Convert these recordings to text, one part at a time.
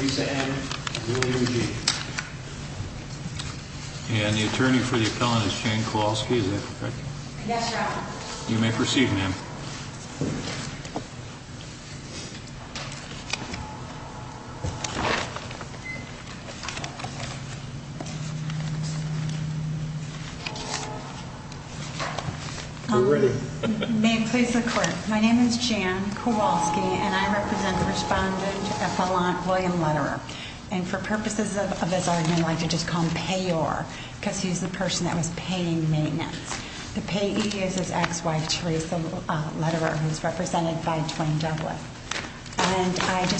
Lisa Ann and the attorney for the appellant is Jane Kowalski, correct? Yes, your honor. You may proceed, ma'am. You may proceed, ma'am. And I just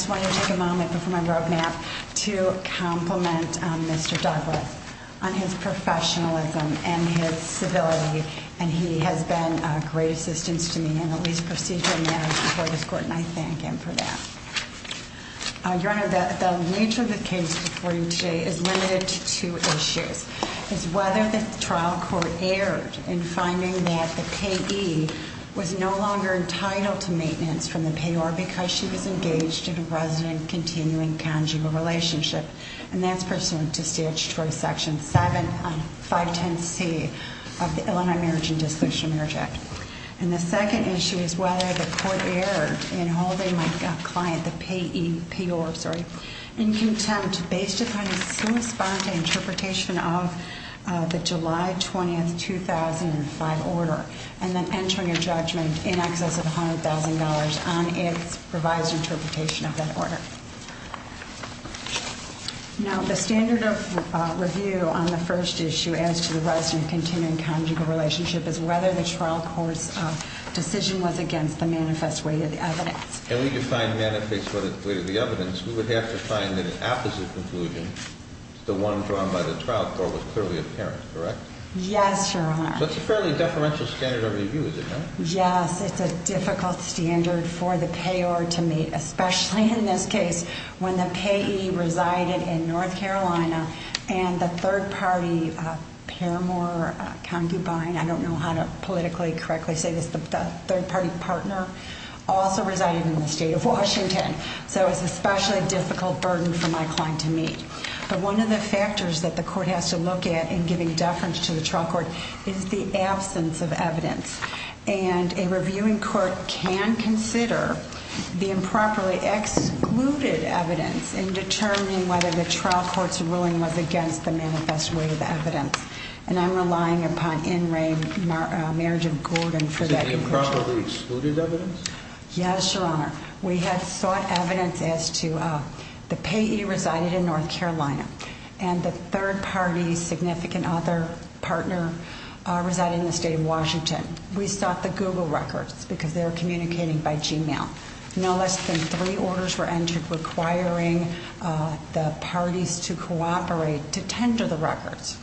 want to take a moment before my road map to compliment Mr. Douglas on his professionalism and his civility, and he has been a great assistance to me in all these procedural matters before this court, and I thank him for that. Your honor, the nature of the case before you today is limited to two issues. It's whether the trial court erred in finding that the PE was no longer entitled to maintenance from the payor because she was engaged in a resident continuing conjugal relationship. And that's pursuant to statutory section 7510C of the Illinois Marriage and Dissolution Marriage Act. And the second issue is whether the court erred in holding my client, the payor, in contempt based upon a sui sponte interpretation of the July 20, 2005 order, and then entering a judgment in excess of $100,000 on its revised interpretation of that order. Now, the standard of review on the first issue as to the resident continuing conjugal relationship is whether the trial court's decision was against the manifest weight of the evidence. And we define manifest weight of the evidence, we would have to find that an opposite conclusion, the one drawn by the trial court, was clearly apparent, correct? Yes, your honor. So it's a fairly deferential standard of review, is it not? Yes, it's a difficult standard for the payor to meet, especially in this case when the payee resided in North Carolina and the third party paramour concubine, I don't know how to politically correctly say this, the third party partner, also resided in the state of Washington. So it's an especially difficult burden for my client to meet. But one of the factors that the court has to look at in giving deference to the trial court is the absence of evidence. And a reviewing court can consider the improperly excluded evidence in determining whether the trial court's ruling was against the manifest weight of evidence. And I'm relying upon N. Ray, Mayor Jim Gordon for that. The improperly excluded evidence? Yes, your honor. We had sought evidence as to the payee residing in North Carolina and the third party significant other partner residing in the state of Washington. We sought the Google records because they were communicating by Gmail. No less than three orders were entered requiring the parties to cooperate to tender the records.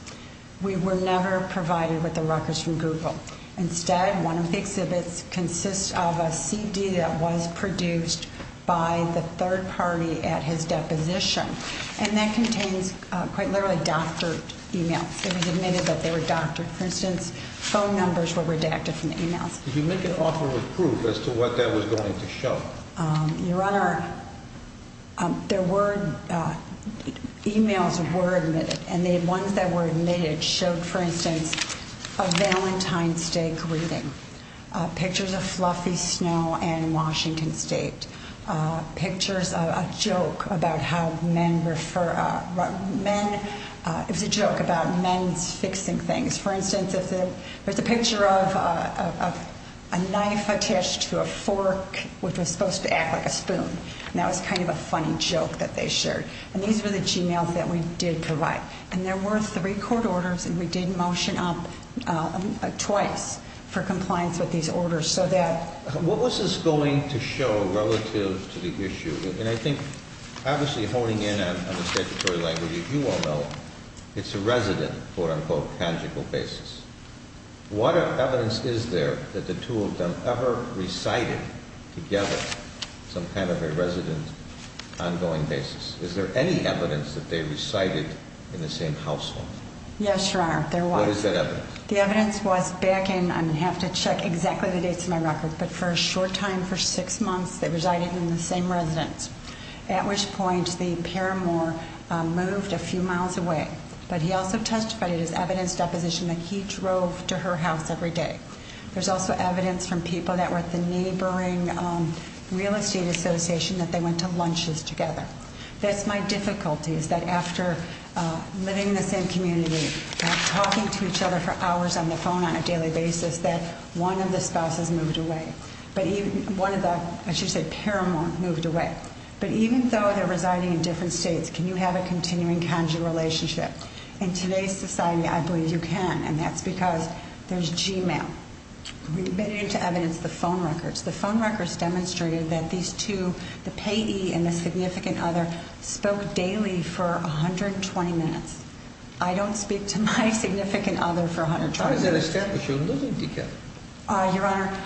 We were never provided with the records from Google. Instead, one of the exhibits consists of a CD that was produced by the third party at his deposition. And that contains quite literally doctored e-mails. It was admitted that they were doctored. For instance, phone numbers were redacted from the e-mails. Did you make an offer of proof as to what that was going to show? Your honor, there were e-mails that were admitted. And the ones that were admitted showed, for instance, a Valentine's Day greeting, pictures of fluffy snow and Washington state, pictures of a joke about how men refer – it was a joke about men fixing things. For instance, there's a picture of a knife attached to a fork, which was supposed to act like a spoon. And that was kind of a funny joke that they shared. And these were the e-mails that we did provide. And there were three court orders, and we did motion up twice for compliance with these orders so that – What was this going to show relative to the issue? And I think, obviously, honing in on the statutory language, you all know it's a resident, quote-unquote, tangible basis. What evidence is there that the two of them ever recited together some kind of a resident ongoing basis? Is there any evidence that they recited in the same household? Yes, your honor, there was. What is that evidence? The evidence was back in – I'm going to have to check exactly the dates on my record – but for a short time, for six months, they resided in the same residence, at which point the paramour moved a few miles away. But he also testified in his evidence deposition that he drove to her house every day. There's also evidence from people that were at the neighboring real estate association that they went to lunches together. That's my difficulty, is that after living in the same community and talking to each other for hours on the phone on a daily basis, that one of the spouses moved away. But even – one of the, I should say, paramour moved away. But even though they're residing in different states, can you have a continuing conjugal relationship? In today's society, I believe you can, and that's because there's Gmail. We've admitted to evidence the phone records. The phone records demonstrated that these two, the payee and the significant other, spoke daily for 120 minutes. I don't speak to my significant other for 120 minutes. How does that establish you're living together? Your honor,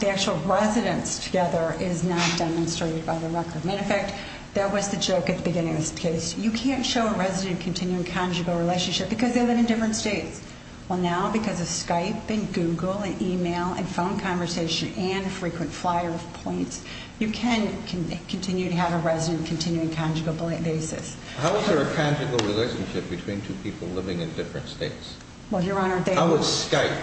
the actual residence together is not demonstrated by the record. Matter of fact, that was the joke at the beginning of this case. You can't show a resident continuing conjugal relationship because they live in different states. Well, now, because of Skype and Google and email and phone conversation and frequent flyer points, you can continue to have a resident continuing conjugal basis. How is there a conjugal relationship between two people living in different states? Well, your honor, they were – How was Skype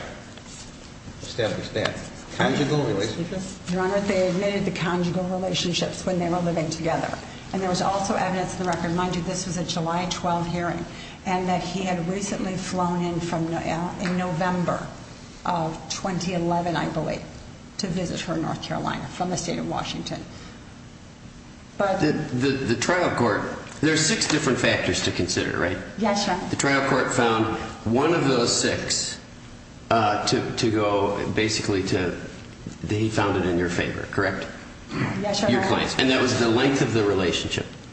established then? Conjugal relationship? Your honor, they admitted to conjugal relationships when they were living together. And there was also evidence in the record – mind you, this was a July 12 hearing – and that he had recently flown in from – in November of 2011, I believe, to visit her in North Carolina from the state of Washington. But – The trial court – there's six different factors to consider, right? Yes, your honor. The trial court found one of those six to go basically to – they found it in your favor, correct? Yes, your honor.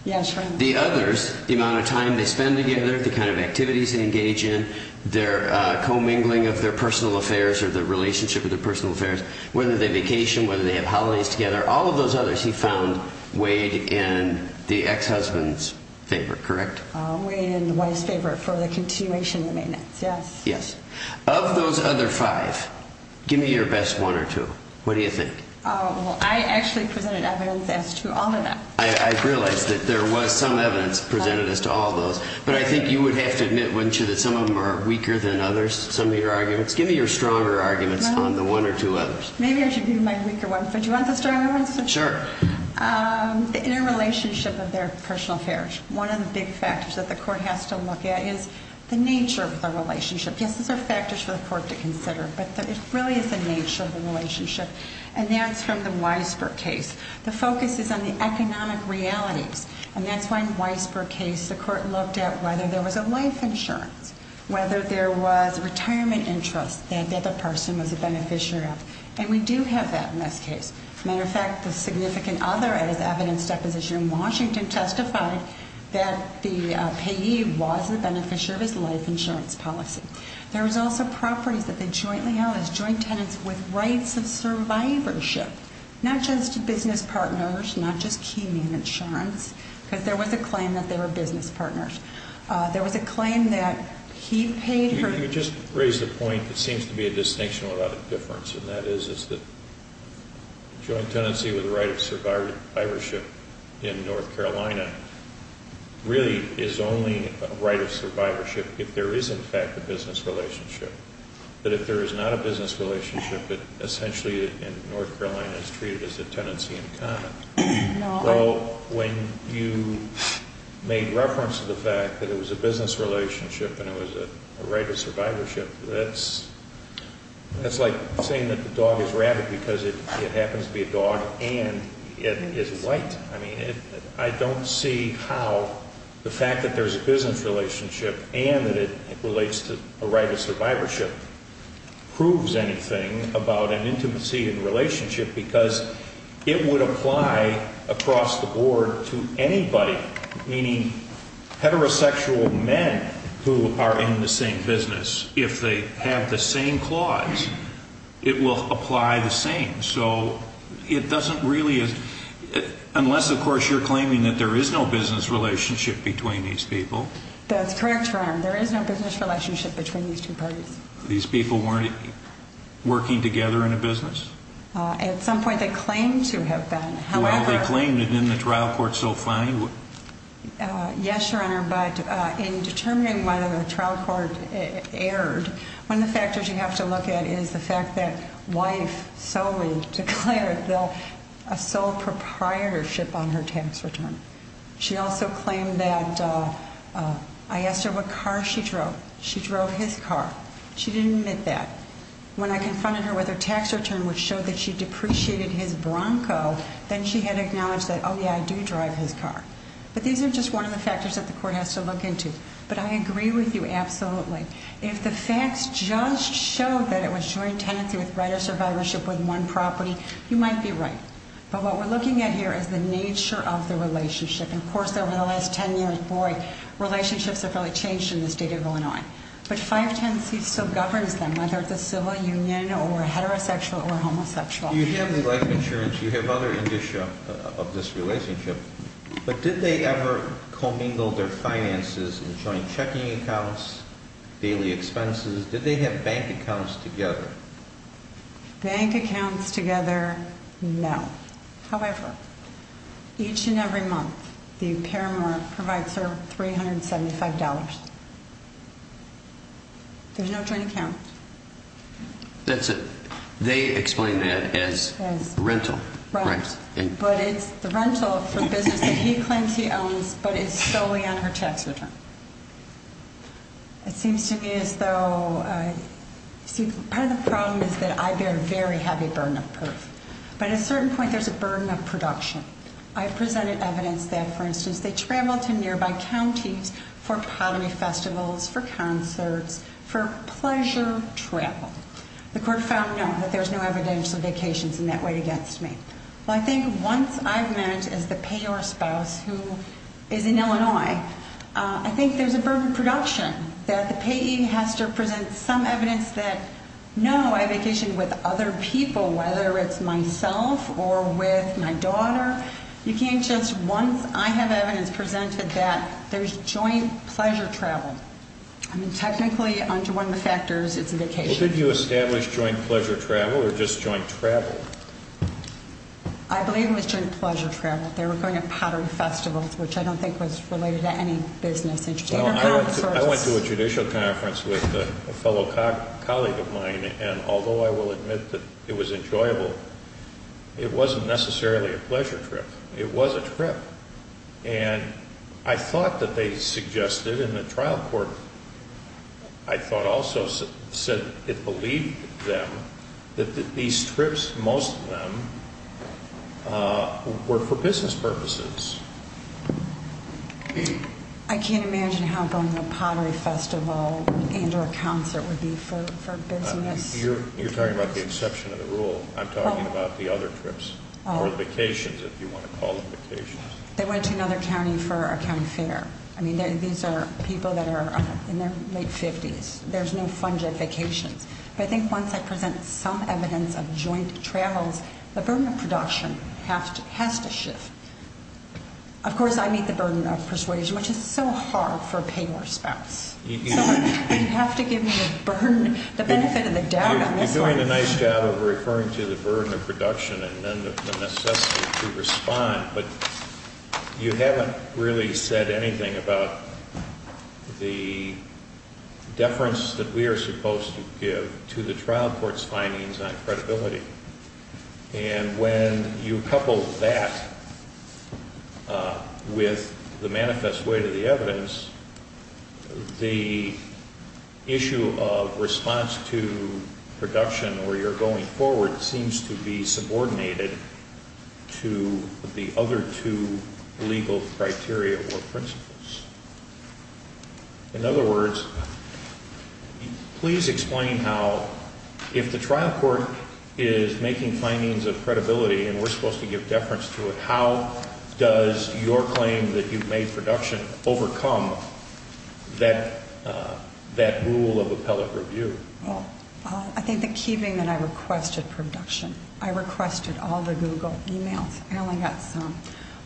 Yes, your honor. The others, the amount of time they spend together, the kind of activities they engage in, their commingling of their personal affairs or the relationship of their personal affairs, whether they vacation, whether they have holidays together, all of those others he found weighed in the ex-husband's favor, correct? Weighed in the wife's favor for the continuation of the maintenance, yes. Yes. Of those other five, give me your best one or two. What do you think? I actually presented evidence as to all of them. I realize that there was some evidence presented as to all of those, but I think you would have to admit, wouldn't you, that some of them are weaker than others, some of your arguments? Give me your stronger arguments on the one or two others. Maybe I should give you my weaker ones, but do you want the stronger ones? Sure. The interrelationship of their personal affairs. One of the big factors that the court has to look at is the nature of the relationship. Yes, those are factors for the court to consider, but it really is the nature of the relationship, and that's from the Weisberg case. The focus is on the economic realities, and that's why in Weisberg's case the court looked at whether there was a life insurance, whether there was a retirement interest that the person was a beneficiary of. And we do have that in this case. As a matter of fact, the significant other at his evidence deposition in Washington testified that the payee was the beneficiary of his life insurance policy. There was also properties that they jointly owned as joint tenants with rights of survivorship, not just business partners, not just key name insurance, because there was a claim that they were business partners. There was a claim that he paid her... But if there is not a business relationship, it essentially in North Carolina is treated as a tenancy in common. Well, when you made reference to the fact that it was a business relationship and it was a right of survivorship, that's like saying that the dog is rabid because it happens to be a dog and it is white. I mean, I don't see how the fact that there's a business relationship and that it relates to a right of survivorship proves anything about an intimacy and relationship because it would apply across the board to anybody, meaning heterosexual men who are in the same business. If they have the same clause, it will apply the same. So it doesn't really... Unless, of course, you're claiming that there is no business relationship between these people. That's correct, Your Honor. There is no business relationship between these two parties. These people weren't working together in a business? At some point they claimed to have been. Well, they claimed it in the trial court so fine? Yes, Your Honor, but in determining whether the trial court erred, one of the factors you have to look at is the fact that wife solely declared a sole proprietorship on her tax return. She also claimed that I asked her what car she drove. She drove his car. She didn't admit that. When I confronted her with her tax return, which showed that she depreciated his Bronco, then she had acknowledged that, oh, yeah, I do drive his car. But these are just one of the factors that the court has to look into. But I agree with you absolutely. If the facts just show that it was joint tenancy with right of survivorship with one property, you might be right. But what we're looking at here is the nature of the relationship. And, of course, over the last 10 years, boy, relationships have really changed in this data going on. But 510C still governs them, whether it's a civil union or heterosexual or homosexual. You have the life insurance. You have other indicia of this relationship. But did they ever commingle their finances in joint checking accounts, daily expenses? Did they have bank accounts together? Bank accounts together, no. However, each and every month, the paramour provides her $375. There's no joint account. That's it. They explain that as rental. Right. But it's the rental for business that he claims he owns but is solely on her tax return. It seems to me as though, see, part of the problem is that I bear very heavy burden of proof. But at a certain point, there's a burden of production. I've presented evidence that, for instance, they travel to nearby counties for poverty festivals, for concerts, for pleasure travel. The court found, no, that there's no evidential vacations in that way against me. Well, I think once I've met as the payor spouse who is in Illinois, I think there's a burden of production, that the payee has to present some evidence that, no, I vacation with other people, whether it's myself or with my daughter. You can't just once I have evidence presented that there's joint pleasure travel. I mean, technically, under one of the factors, it's a vacation. Well, did you establish joint pleasure travel or just joint travel? I believe it was joint pleasure travel. They were going to pottery festivals, which I don't think was related to any business. I went to a judicial conference with a fellow colleague of mine, and although I will admit that it was enjoyable, it wasn't necessarily a pleasure trip. It was a trip. And I thought that they suggested in the trial court, I thought also said it believed them that these trips, most of them, were for business purposes. I can't imagine how going to a pottery festival and or a concert would be for business. You're talking about the exception of the rule. I'm talking about the other trips or the vacations, if you want to call them vacations. They went to another county for a county fair. I mean, these are people that are in their late 50s. There's no fun just vacations. But I think once I present some evidence of joint travels, the burden of production has to shift. Of course, I meet the burden of persuasion, which is so hard for a payor's spouse. But you have to give me the benefit of the doubt on this one. You're doing a nice job of referring to the burden of production and then the necessity to respond. But you haven't really said anything about the deference that we are supposed to give to the trial court's findings on credibility. And when you couple that with the manifest way to the evidence, the issue of response to production or your going forward seems to be subordinated to the other two legal criteria or principles. In other words, please explain how if the trial court is making findings of credibility and we're supposed to give deference to it, how does your claim that you've made production overcome that rule of appellate review? Well, I think the key thing that I requested production. I requested all the Google emails. I only got some.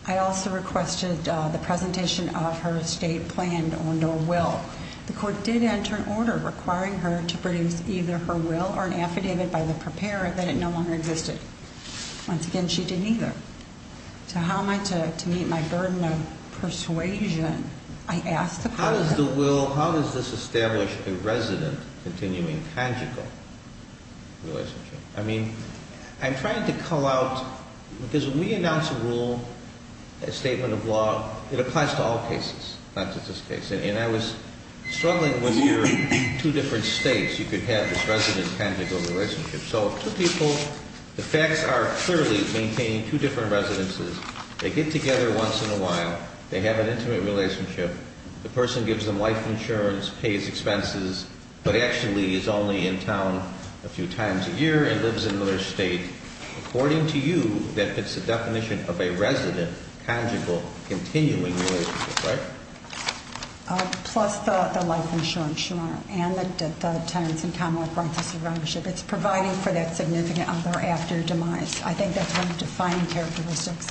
I also requested the presentation of her estate planned or no will. The court did enter an order requiring her to produce either her will or an affidavit by the preparer that it no longer existed. Once again, she didn't either. So how am I to meet my burden of persuasion? I asked the court- How does the will, how does this establish a resident continuing tangible relationship? I mean, I'm trying to call out, because when we announce a rule, a statement of law, it applies to all cases, not just this case. And I was struggling with your two different states. You could have this resident tangible relationship. So two people, the facts are clearly maintaining two different residences. They get together once in a while. They have an intimate relationship. The person gives them life insurance, pays expenses, but actually is only in town a few times a year and lives in another state. According to you, that fits the definition of a resident tangible continuing relationship, right? Plus the life insurance, Your Honor, and the tenants in common with rightful surrendership. It's providing for that significant other after demise. I think that's one of the defining characteristics.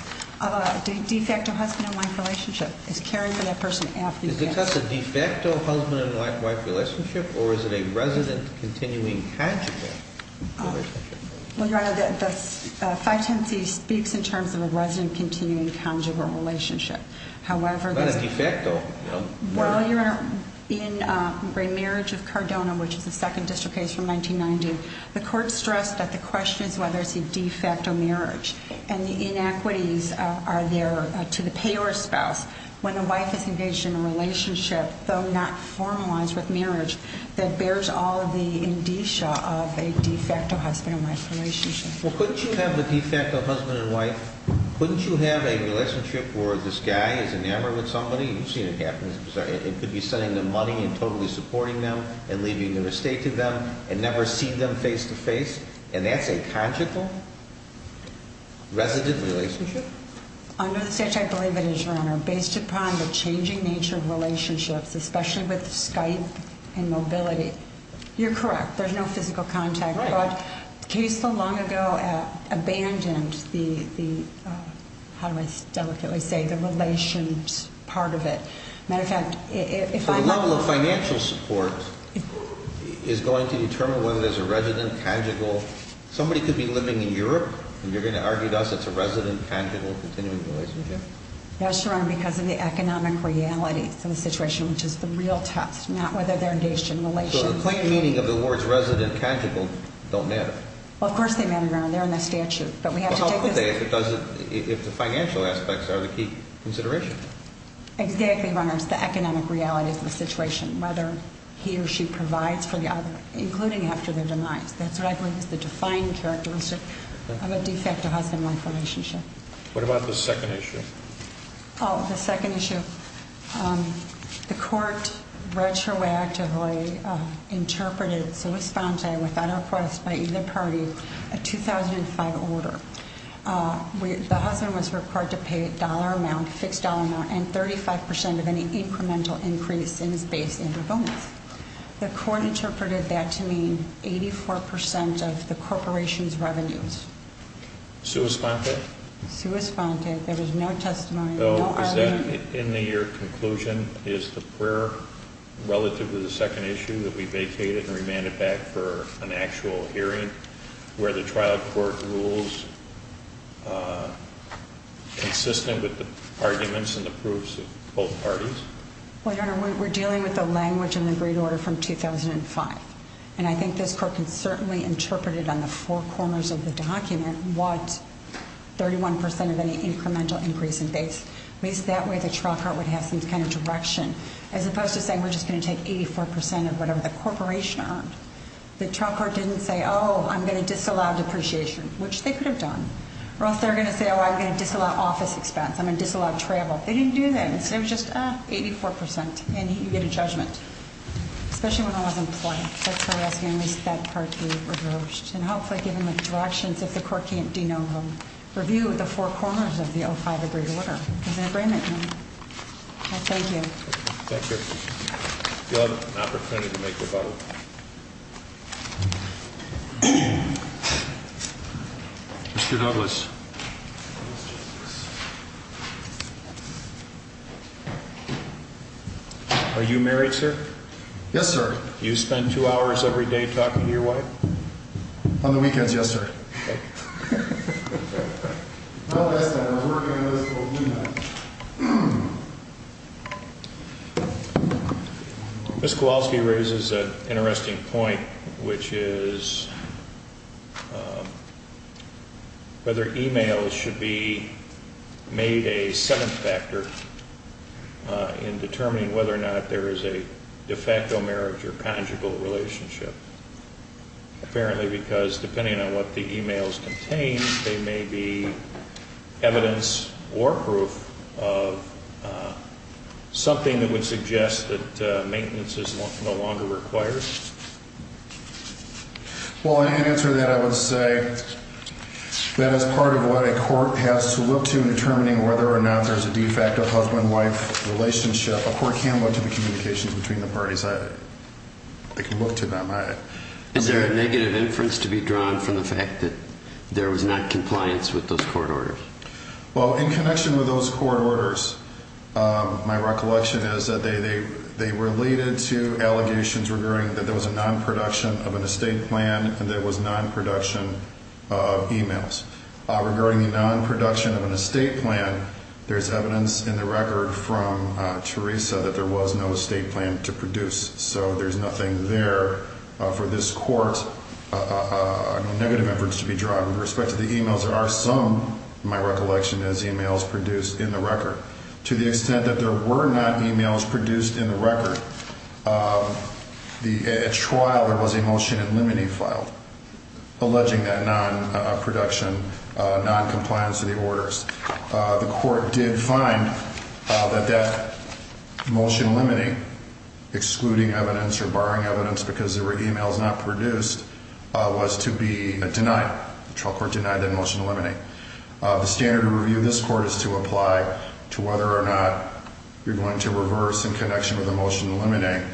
De facto husband and wife relationship is caring for that person after- Is it just a de facto husband and wife relationship, or is it a resident continuing tangible relationship? Well, Your Honor, the 510C speaks in terms of a resident continuing tangible relationship. However- Not a de facto, no. While you're in remarriage of Cardona, which is the second district case from 1990, the court stressed that the question is whether it's a de facto marriage. And the inequities are there to the payor's spouse. When the wife is engaged in a relationship, though not formalized with marriage, that bears all of the indicia of a de facto husband and wife relationship. Well, couldn't you have a de facto husband and wife? Couldn't you have a relationship where this guy is enamored with somebody? You've seen it happen. It could be sending them money and totally supporting them and leaving the estate to them and never see them face to face. And that's a tangible resident relationship? Under the statute, I believe it is, Your Honor, based upon the changing nature of relationships, especially with Skype and mobility. You're correct. There's no physical contact. Right. The case so long ago abandoned the, how do I delicately say, the relations part of it. As a matter of fact, if I'm not wrong. So the level of financial support is going to determine whether there's a resident tangible. Somebody could be living in Europe and you're going to argue to us it's a resident tangible continuing relationship? Yes, Your Honor, because of the economic reality of the situation, which is the real test, not whether they're engaged in relations. So the plain meaning of the words resident tangible don't matter? Well, of course they matter, Your Honor. They're in the statute. But how could they if the financial aspects are the key consideration? Exactly, Your Honor. It's the economic realities of the situation, whether he or she provides for the other, including after their demise. That's what I believe is the defining characteristic of a de facto husband-wife relationship. What about the second issue? Oh, the second issue. The court retroactively interpreted sua sponte without request by either party, a 2005 order. The husband was required to pay a dollar amount, fixed dollar amount, and 35% of any incremental increase in his base income. The court interpreted that to mean 84% of the corporation's revenues. Sua sponte? Sua sponte. There was no testimony. So is that, in your conclusion, is the prayer relative to the second issue that we vacated and remanded back for an actual hearing, where the trial court rules consistent with the arguments and the proofs of both parties? Well, Your Honor, we're dealing with the language in the agreed order from 2005. And I think this court can certainly interpret it on the four corners of the document, what 31% of any incremental increase in base. At least that way the trial court would have some kind of direction, as opposed to saying we're just going to take 84% of whatever the corporation earned. The trial court didn't say, oh, I'm going to disallow depreciation, which they could have done. Or else they're going to say, oh, I'm going to disallow office expense. I'm going to disallow travel. They didn't do that. It was just, ah, 84%. And you get a judgment. Especially when it wasn't plain. That's why we're asking at least that part to be reversed. And hopefully given the directions, if the court can't de novo, review the four corners of the 05 agreed order. There's an agreement here. I thank you. Thank you. You'll have an opportunity to make your vote. Mr. Douglas. Are you married, sir? Yes, sir. Do you spend two hours every day talking to your wife? On the weekends, yes, sir. Mr. Kowalski raises an interesting point, which is whether e-mails should be made a second factor in determining whether or not there is a de facto marriage or conjugal relationship. Apparently because depending on what the e-mails contain, they may be evidence or proof of something that would suggest that maintenance is no longer required. Well, in answer to that, I would say that as part of what a court has to look to in determining whether or not there's a de facto husband-wife relationship, a court can look to the communications between the parties. They can look to them. Is there a negative inference to be drawn from the fact that there was not compliance with those court orders? Well, in connection with those court orders, my recollection is that they related to allegations regarding that there was a non-production of an estate plan and there was non-production of e-mails. Regarding the non-production of an estate plan, there's evidence in the record from Teresa that there was no estate plan to produce. So there's nothing there for this court's negative inference to be drawn. With respect to the e-mails, there are some, in my recollection, as e-mails produced in the record. To the extent that there were not e-mails produced in the record, at trial there was a motion in limine filed alleging that non-production, non-compliance to the orders. The court did find that that motion in limine, excluding evidence or barring evidence because there were e-mails not produced, was to be denied. The trial court denied that motion in limine. The standard of review of this court is to apply to whether or not you're going to reverse in connection with the motion in limine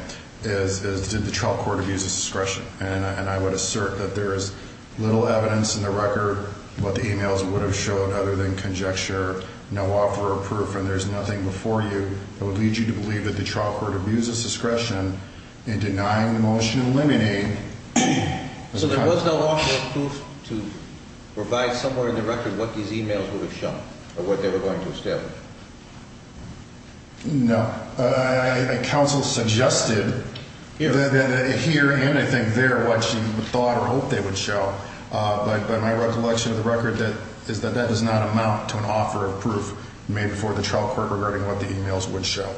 is did the trial court abuse discretion? And I would assert that there is little evidence in the record what the e-mails would have showed other than conjecture, no offer of proof, and there's nothing before you that would lead you to believe that the trial court abused discretion in denying the motion in limine. So there was no offer of proof to provide somewhere in the record what these e-mails would have shown or what they were going to establish? No. Counsel suggested that here and I think there what she thought or hoped they would show, but my recollection of the record is that that does not amount to an offer of proof made before the trial court regarding what the e-mails would show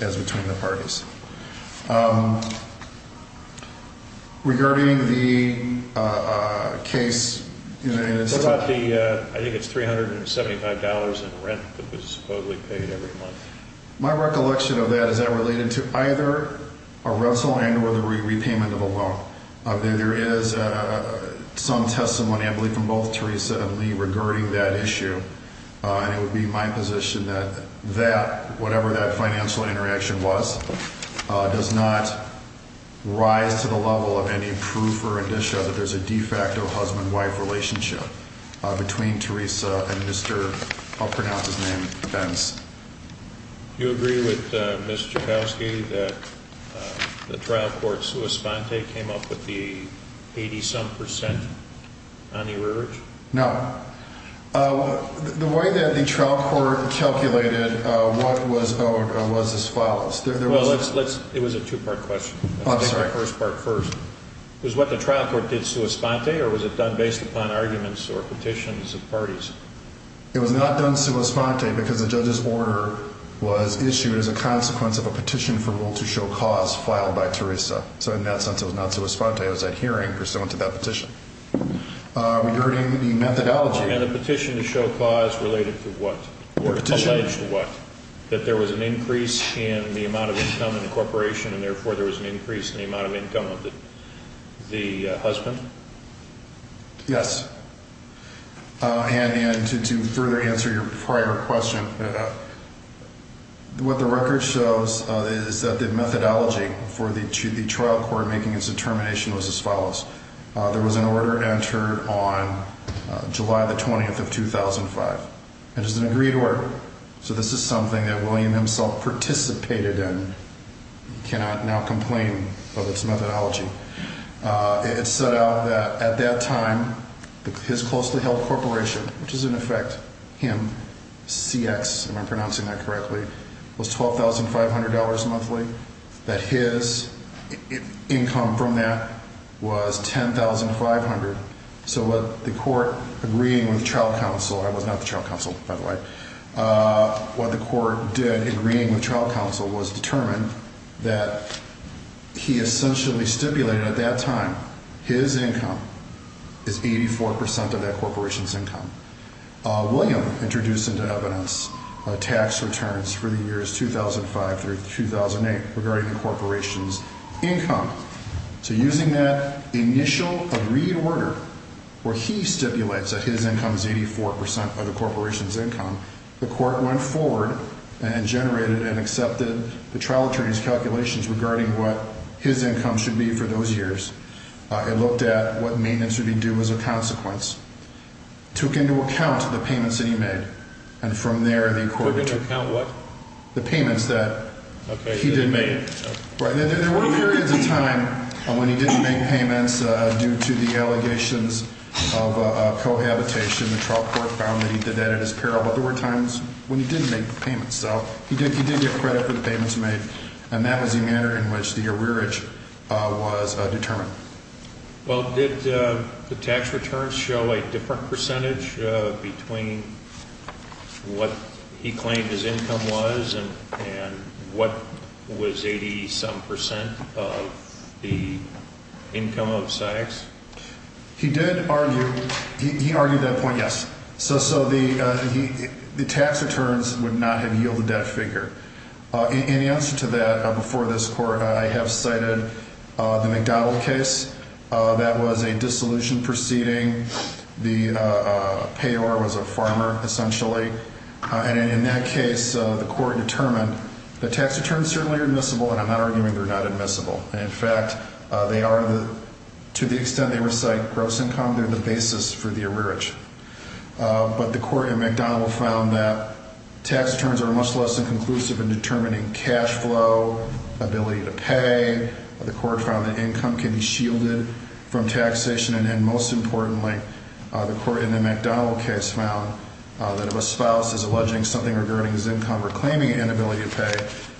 as between the parties. Regarding the case. I think it's $375 in rent that was supposedly paid every month. My recollection of that is that related to either a rental and or the repayment of a loan. There is some testimony I believe from both Teresa and me regarding that issue. And it would be my position that that whatever that financial interaction was, does not rise to the level of any proof or addition that there's a de facto husband wife relationship between Teresa and Mr. I'll pronounce his name. You agree with Mr. Kowski that the trial courts who respond, they came up with the 80 some percent on the urge. Now, the way that the trial court calculated what was was as follows. Well, let's let's it was a two part question. I'm sorry. First part first was what the trial court did. So a spot there was it done based upon arguments or petitions of parties? It was not done to respond to because the judge's order was issued as a consequence of a petition for rule to show cause filed by Teresa. So in that sense, it was not to respond to. It was that hearing pursuant to that petition. We heard in the methodology and a petition to show cause related to what? What? What? That there was an increase in the amount of income in the corporation and therefore there was an increase in the amount of income of the husband. Yes. And to further answer your prior question. What the record shows is that the methodology for the trial court making its determination was as follows. There was an order entered on July the 20th of 2005. It is an agreed order. So this is something that William himself participated in. You cannot now complain of its methodology. It set out that at that time, his closely held corporation, which is in effect him, CX, if I'm pronouncing that correctly, was $12,500 monthly. That his income from that was $10,500. So what the court agreeing with trial counsel, I was not the trial counsel, by the way. What the court did agreeing with trial counsel was determine that he essentially stipulated at that time his income is 84% of that corporation's income. William introduced into evidence tax returns for the years 2005 through 2008 regarding the corporation's income. So using that initial agreed order where he stipulates that his income is 84% of the corporation's income, the court went forward and generated and accepted the trial attorney's calculations regarding what his income should be for those years. It looked at what maintenance would be due as a consequence. Took into account the payments that he made. And from there the court took into account what? The payments that he did make. There were periods of time when he didn't make payments due to the allegations of cohabitation. The trial court found that he did that at his peril. But there were times when he didn't make payments. So he did get credit for the payments made. And that was the manner in which the arrearage was determined. Well, did the tax returns show a different percentage between what he claimed his income was and what was 87% of the income of Sykes? He did argue. He argued that point, yes. So the tax returns would not have yielded that figure. In answer to that, before this court, I have cited the McDonald case. That was a dissolution proceeding. The payor was a farmer, essentially. And in that case, the court determined that tax returns certainly are admissible. And I'm not arguing they're not admissible. In fact, they are, to the extent they recite gross income, they're the basis for the arrearage. But the court in McDonald found that tax returns are much less than conclusive in determining cash flow, ability to pay. The court found that income can be shielded from taxation. And most importantly, the court in the McDonald case found that if a spouse is alleging something regarding his income or claiming inability to pay,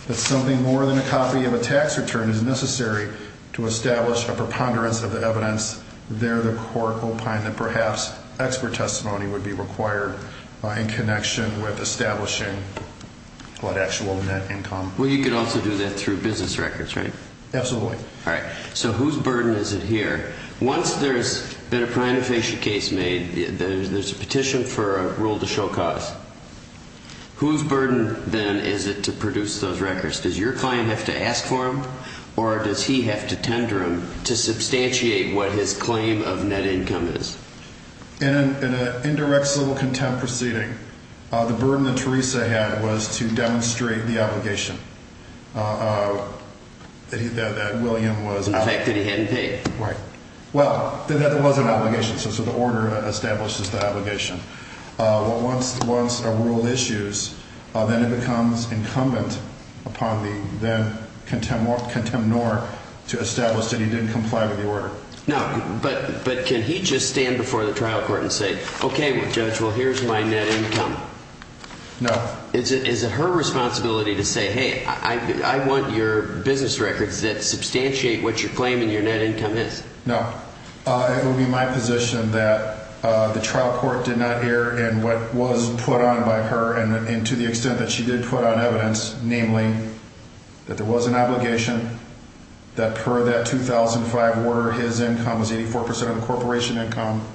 that something more than a copy of a tax return is necessary to establish a preponderance of the evidence. There, the court opined that perhaps expert testimony would be required in connection with establishing what actual net income. Well, you could also do that through business records, right? Absolutely. All right. So whose burden is it here? Once there's been a perinatal facial case made, there's a petition for a rule to show cause. Whose burden, then, is it to produce those records? Does your client have to ask for them, or does he have to tender them to substantiate what his claim of net income is? In an indirect civil contempt proceeding, the burden that Teresa had was to demonstrate the obligation that William was out. The fact that he hadn't paid. Right. Well, there was an obligation, so the order establishes the obligation. Once a rule issues, then it becomes incumbent upon the then-contemnor to establish that he didn't comply with the order. No, but can he just stand before the trial court and say, okay, Judge, well, here's my net income? No. Is it her responsibility to say, hey, I want your business records that substantiate what you're claiming your net income is? No. It would be my position that the trial court did not err in what was put on by her, and to the extent that she did put on evidence, namely, that there was an obligation that per that 2005 order, his income was 84% of the corporation income,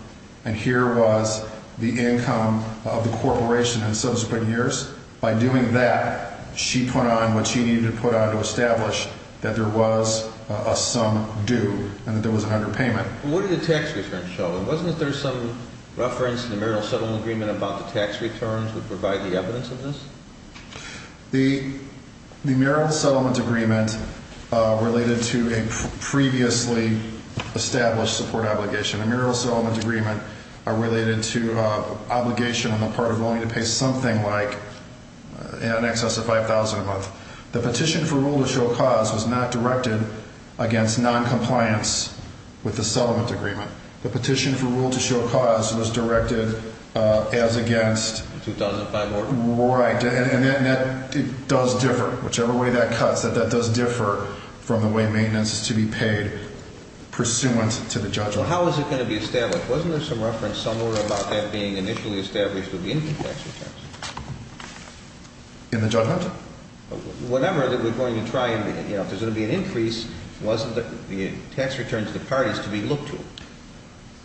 and here was the income of the corporation in subsequent years. By doing that, she put on what she needed to put on to establish that there was a sum due and that there was an underpayment. What did the tax return show? Wasn't there some reference in the Mural Settlement Agreement about the tax returns would provide the evidence of this? The Mural Settlement Agreement related to a previously established support obligation. The Mural Settlement Agreement are related to obligation on the part of willing to pay something like in excess of $5,000 a month. The petition for rule to show cause was not directed against noncompliance with the settlement agreement. The petition for rule to show cause was directed as against... 2005 order. Right, and that does differ. Whichever way that cuts, that does differ from the way maintenance is to be paid pursuant to the judgment. How is it going to be established? Wasn't there some reference somewhere about that being initially established with the income tax returns? In the judgment? Whatever that we're going to try and, you know, if there's going to be an increase, wasn't the tax returns to the parties to be looked to?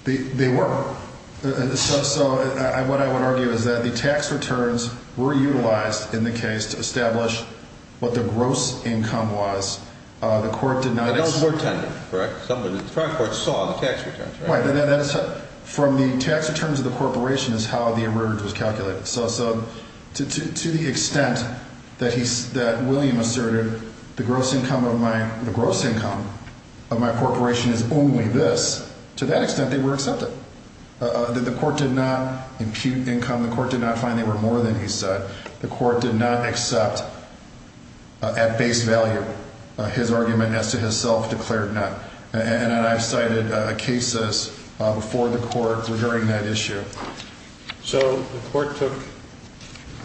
They were. So what I would argue is that the tax returns were utilized in the case to establish what the gross income was. The court did not... Correct? The trial court saw the tax returns, right? Right. From the tax returns of the corporation is how the error was calculated. So to the extent that William asserted the gross income of my corporation is only this, to that extent they were accepted. The court did not impute income. The court did not find they were more than he said. The court did not accept at base value his argument as to his self-declared none. And I've cited cases before the court regarding that issue. So the court took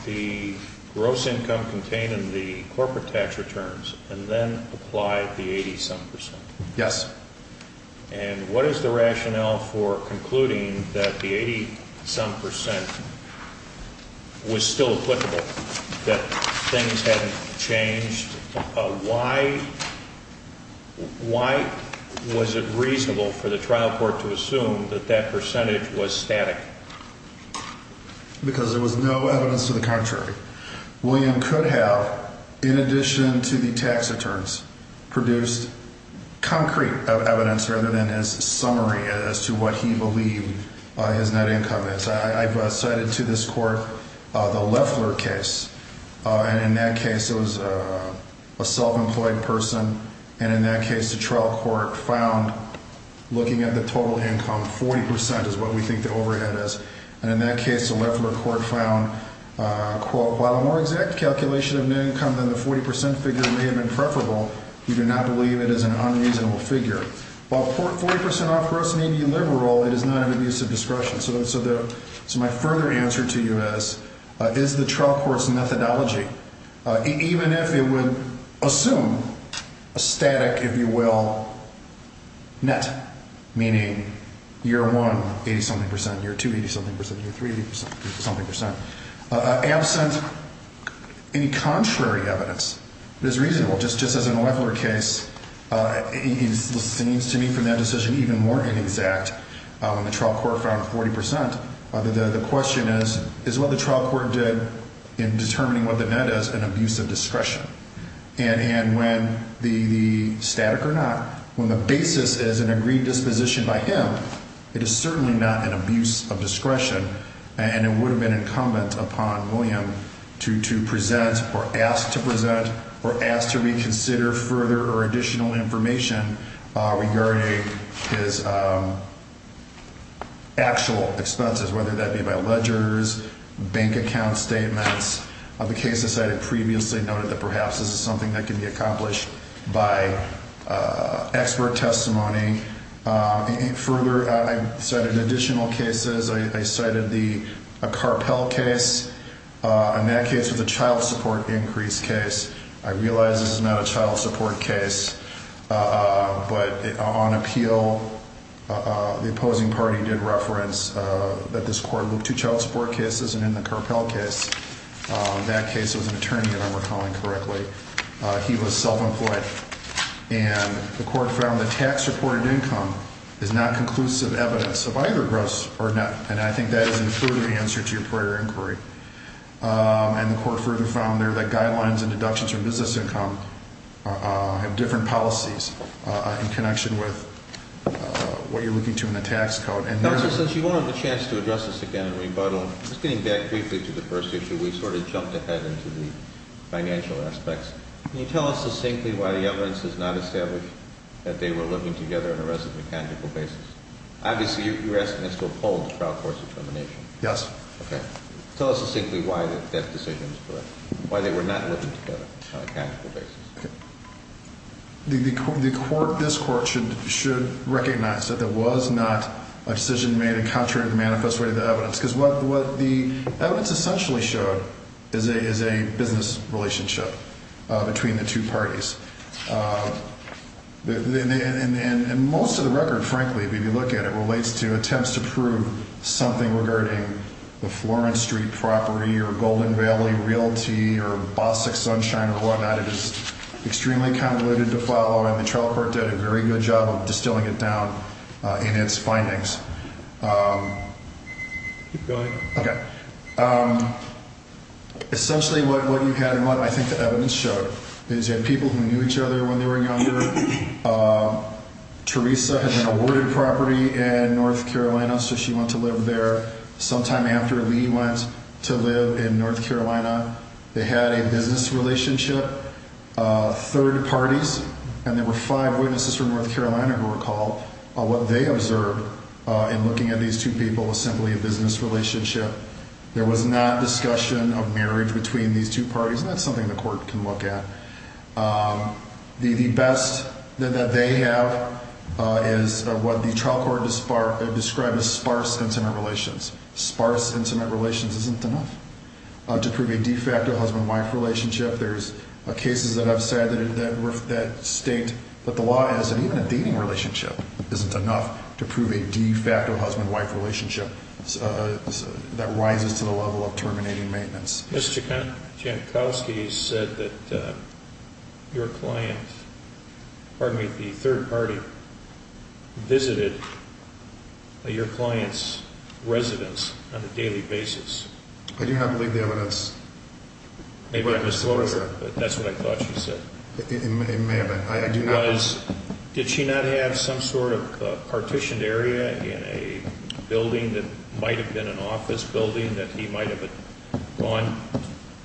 the gross income contained in the corporate tax returns and then applied the 80-some percent? Yes. And what is the rationale for concluding that the 80-some percent was still applicable, that things hadn't changed? Why was it reasonable for the trial court to assume that that percentage was static? Because there was no evidence to the contrary. William could have, in addition to the tax returns, produced concrete evidence rather than his summary as to what he believed his net income is. I've cited to this court the Loeffler case. And in that case it was a self-employed person. And in that case the trial court found, looking at the total income, 40 percent is what we think the overhead is. And in that case the Loeffler court found, quote, while a more exact calculation of net income than the 40 percent figure may have been preferable, we do not believe it is an unreasonable figure. While 40 percent off gross and 80 liberal, it is not an abuse of discretion. So my further answer to you is, is the trial court's methodology, even if it would assume a static, if you will, net, meaning year one 80-something percent, year two 80-something percent, year three 80-something percent, absent any contrary evidence, it is reasonable. Just as in the Loeffler case, it seems to me from that decision even more inexact when the trial court found 40 percent. The question is, is what the trial court did in determining what the net is an abuse of discretion? And when the static or not, when the basis is an agreed disposition by him, it is certainly not an abuse of discretion. And it would have been incumbent upon William to present or ask to present or ask to reconsider further or additional information regarding his actual expenses, whether that be by ledgers, bank account statements. The cases cited previously noted that perhaps this is something that can be accomplished by expert testimony. Further, I cited additional cases. I cited the Carpell case, and that case was a child support increase case. I realize this is not a child support case, but on appeal, the opposing party did reference that this court looked to child support cases. And in the Carpell case, that case was an attorney, if I'm recalling correctly. He was self-employed. And the court found the tax-reported income is not conclusive evidence of either gross or net, and I think that is an including answer to your prior inquiry. And the court further found there that guidelines and deductions from business income have different policies in connection with what you're looking to in the tax code. Counsel, since you won't have the chance to address this again in rebuttal, I'm just getting back briefly to the first issue. We sort of jumped ahead into the financial aspects. Can you tell us succinctly why the evidence does not establish that they were living together on a resident mechanical basis? Obviously, you're asking us to uphold the trial court's determination. Yes. Okay. Tell us succinctly why that decision is correct, why they were not living together on a mechanical basis. Okay. The court, this court, should recognize that there was not a decision made in contrary to the manifest way of the evidence because what the evidence essentially showed is a business relationship between the two parties. And most of the record, frankly, if you look at it, relates to attempts to prove something regarding the Florence Street property or Golden Valley Realty or Bossick Sunshine or whatnot. It is extremely convoluted to follow, and the trial court did a very good job of distilling it down in its findings. Keep going. Okay. Essentially, what you had and what I think the evidence showed is you had people who knew each other when they were younger. Teresa had been awarded property in North Carolina, so she went to live there. Sometime after, Lee went to live in North Carolina. They had a business relationship, third parties, and there were five witnesses from North Carolina who recall what they observed in looking at these two people as simply a business relationship. There was not discussion of marriage between these two parties, and that's something the court can look at. The best that they have is what the trial court described as sparse intimate relations. Sparse intimate relations isn't enough to prove a de facto husband-wife relationship. There's cases that have said that state that the law is that even a dating relationship isn't enough to prove a de facto husband-wife relationship that rises to the level of terminating maintenance. Mr. Jankowski said that your client, pardon me, the third party visited your client's residence on a daily basis. I do not believe the evidence. That's what I thought you said. It may have been. Did she not have some sort of partitioned area in a building that might have been an office building that he might have gone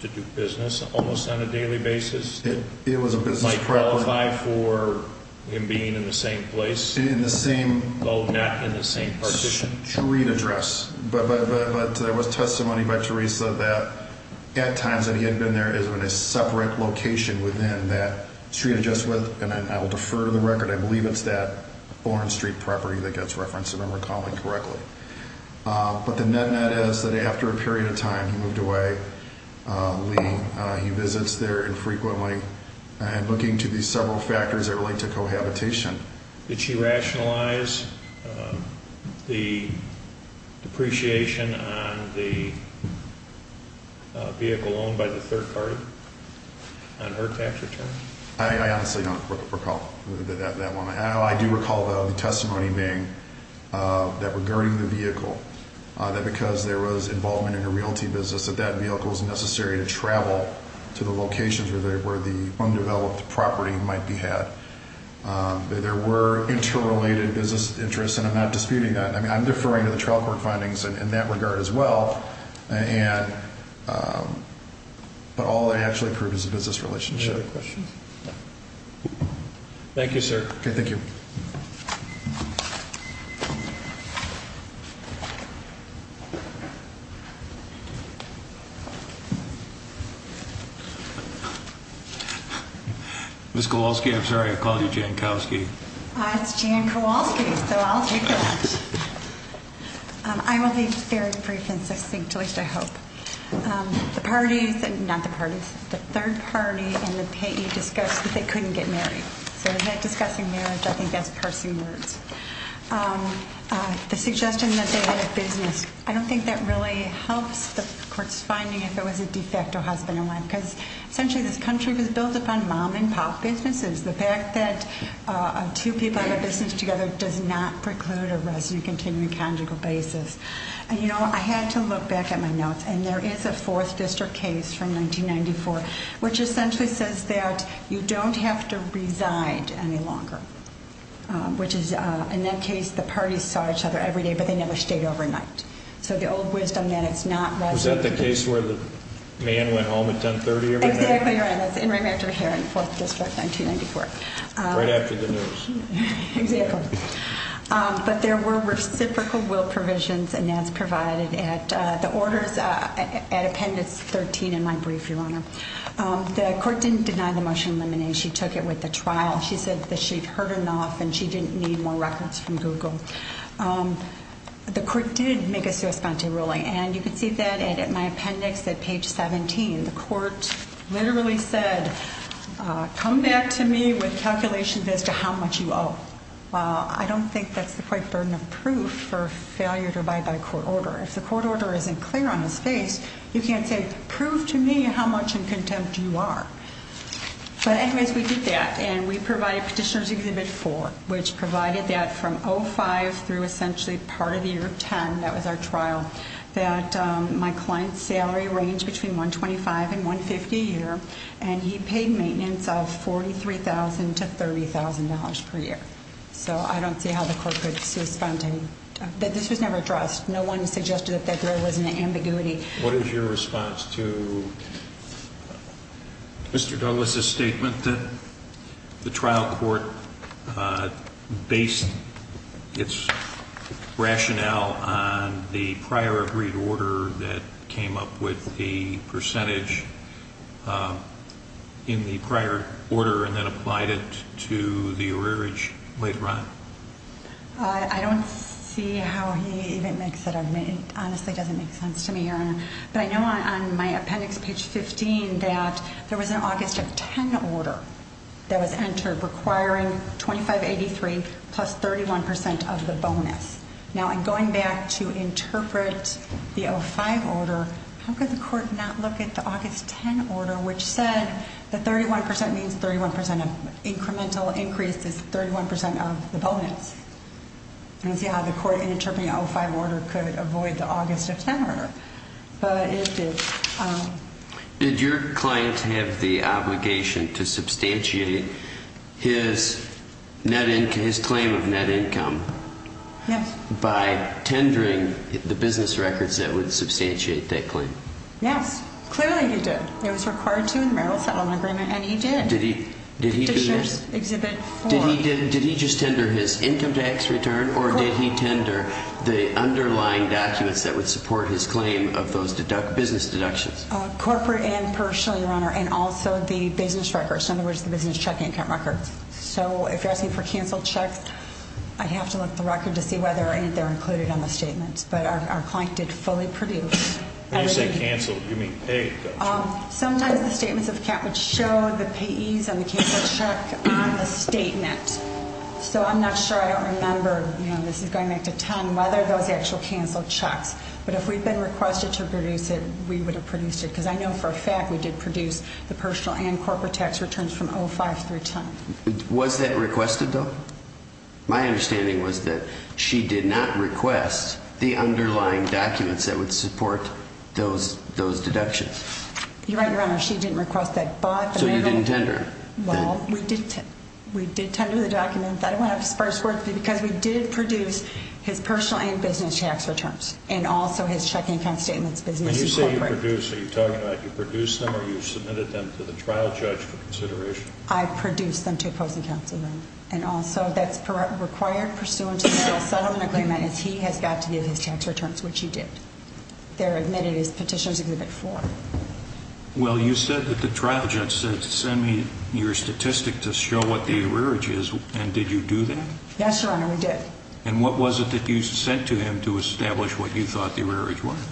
to do business almost on a daily basis? It was a business property. Might qualify for him being in the same place? In the same... Oh, not in the same partition? Street address. But there was testimony by Teresa that at times that he had been there is in a separate location within that street address. And I will defer to the record. I believe it's that foreign street property that gets referenced, if I'm recalling correctly. But the net-net is that after a period of time, he moved away. He visits there infrequently. And looking to these several factors that relate to cohabitation. Did she rationalize the depreciation on the vehicle owned by the third party on her tax return? I honestly don't recall that one. I do recall, though, the testimony being that regarding the vehicle, that because there was involvement in a realty business, that that vehicle was necessary to travel to the locations where the undeveloped property might be had. There were interrelated business interests, and I'm not disputing that. I mean, I'm deferring to the trial court findings in that regard as well. But all they actually proved is a business relationship. Any other questions? Thank you, sir. Okay, thank you. Ms. Kowalski, I'm sorry I called you Jan Kowalski. It's Jan Kowalski, so I'll take that. I will be very brief and succinct, at least I hope. The parties, not the parties, the third party and the payee discussed that they couldn't get married. So is that discussing marriage? I think that's parsing words. The suggestion that they had a business, I don't think that really helps the court's finding if it was a de facto husband and wife, because essentially this country was built upon mom and pop businesses. The fact that two people have a business together does not preclude a resident continuing a conjugal basis. And, you know, I had to look back at my notes, and there is a fourth district case from 1994, which essentially says that you don't have to reside any longer, which is, in that case, the parties saw each other every day, but they never stayed overnight. So the old wisdom that it's not resident. Was that the case where the man went home at 1030 every night? Exactly right. That's Inmate Manager Herron, Fourth District, 1994. Right after the news. Exactly. But there were reciprocal will provisions, and that's provided at the orders at Appendix 13 in my brief, Your Honor. The court didn't deny the motion of elimination. She took it with the trial. She said that she'd heard enough and she didn't need more records from Google. The court did make a sua sponte ruling, and you can see that in my appendix at page 17. The court literally said, come back to me with calculations as to how much you owe. I don't think that's the quite burden of proof for failure to abide by court order. If the court order isn't clear on his face, you can't say, prove to me how much in contempt you are. But anyways, we did that, and we provided Petitioner's Exhibit 4, which provided that from 05 through essentially part of the year 10, that was our trial, that my client's salary ranged between $125,000 and $150,000 a year, and he paid maintenance of $43,000 to $30,000 per year. So I don't see how the court could sua sponte. This was never addressed. No one suggested that there was an ambiguity. What is your response to Mr. Douglas' statement that the trial court based its rationale on the prior agreed order that came up with the percentage in the prior order and then applied it to the arrearage later on? I don't see how he even makes that argument. It honestly doesn't make sense to me, Your Honor. But I know on my appendix, page 15, that there was an August of 10 order that was entered requiring 2583 plus 31% of the bonus. Now, in going back to interpret the 05 order, how could the court not look at the August 10 order, which said that 31% means 31% of incremental increase is 31% of the bonus. I don't see how the court in interpreting the 05 order could avoid the August of 10 order, but it did. Did your client have the obligation to substantiate his claim of net income by tendering the business records that would substantiate that claim? Yes, clearly he did. It was required to in the marital settlement agreement, and he did. Did he just tender his income tax return, or did he tender the underlying documents that would support his claim of those business deductions? Corporate and personal, Your Honor, and also the business records, in other words, the business check income records. So if you're asking for canceled checks, I'd have to look at the record to see whether or not they're included on the statement. But our client did fully produce everything. When you say canceled, you mean paid, don't you? Sometimes the statements of account would show the payees on the canceled check on the statement. So I'm not sure. I don't remember. This is going back to 10, whether those actual canceled checks. But if we'd been requested to produce it, we would have produced it, because I know for a fact we did produce the personal and corporate tax returns from 05 through 10. Was that requested, though? My understanding was that she did not request the underlying documents that would support those deductions. You're right, Your Honor. She didn't request that. So you didn't tender? Well, we did tender the documents. I don't want to have to sparse words, because we did produce his personal and business tax returns and also his checking account statements, business and corporate. When you say you produced, are you talking about you produced them or you submitted them to the trial judge for consideration? I produced them to opposing counsel. And also that's required pursuant to the settlement agreement is he has got to give his tax returns, which he did. They're admitted as Petitioner's Exhibit 4. Well, you said that the trial judge said send me your statistic to show what the rearage is, and did you do that? Yes, Your Honor, we did. And what was it that you sent to him to establish what you thought the rearage was?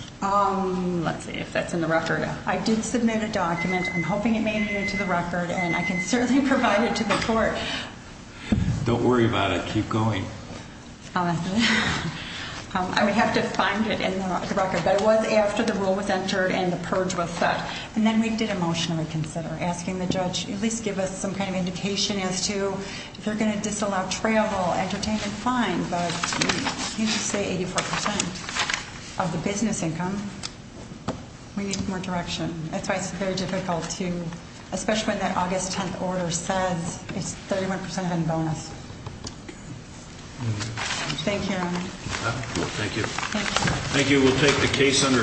Let's see if that's in the record. I did submit a document. I'm hoping it made it into the record, and I can certainly provide it to the court. Don't worry about it. Keep going. I would have to find it in the record. But it was after the rule was entered and the purge was set. And then we did a motion to consider, asking the judge at least give us some kind of indication as to if you're going to disallow travel, entertainment, fine. But you didn't say 84% of the business income. We need more direction. That's why it's very difficult to, especially when that August 10th order says it's 31% in bonus. Thank you, Your Honor. Thank you. Thank you. Thank you. We'll take the case under advisement. Court is adjourned.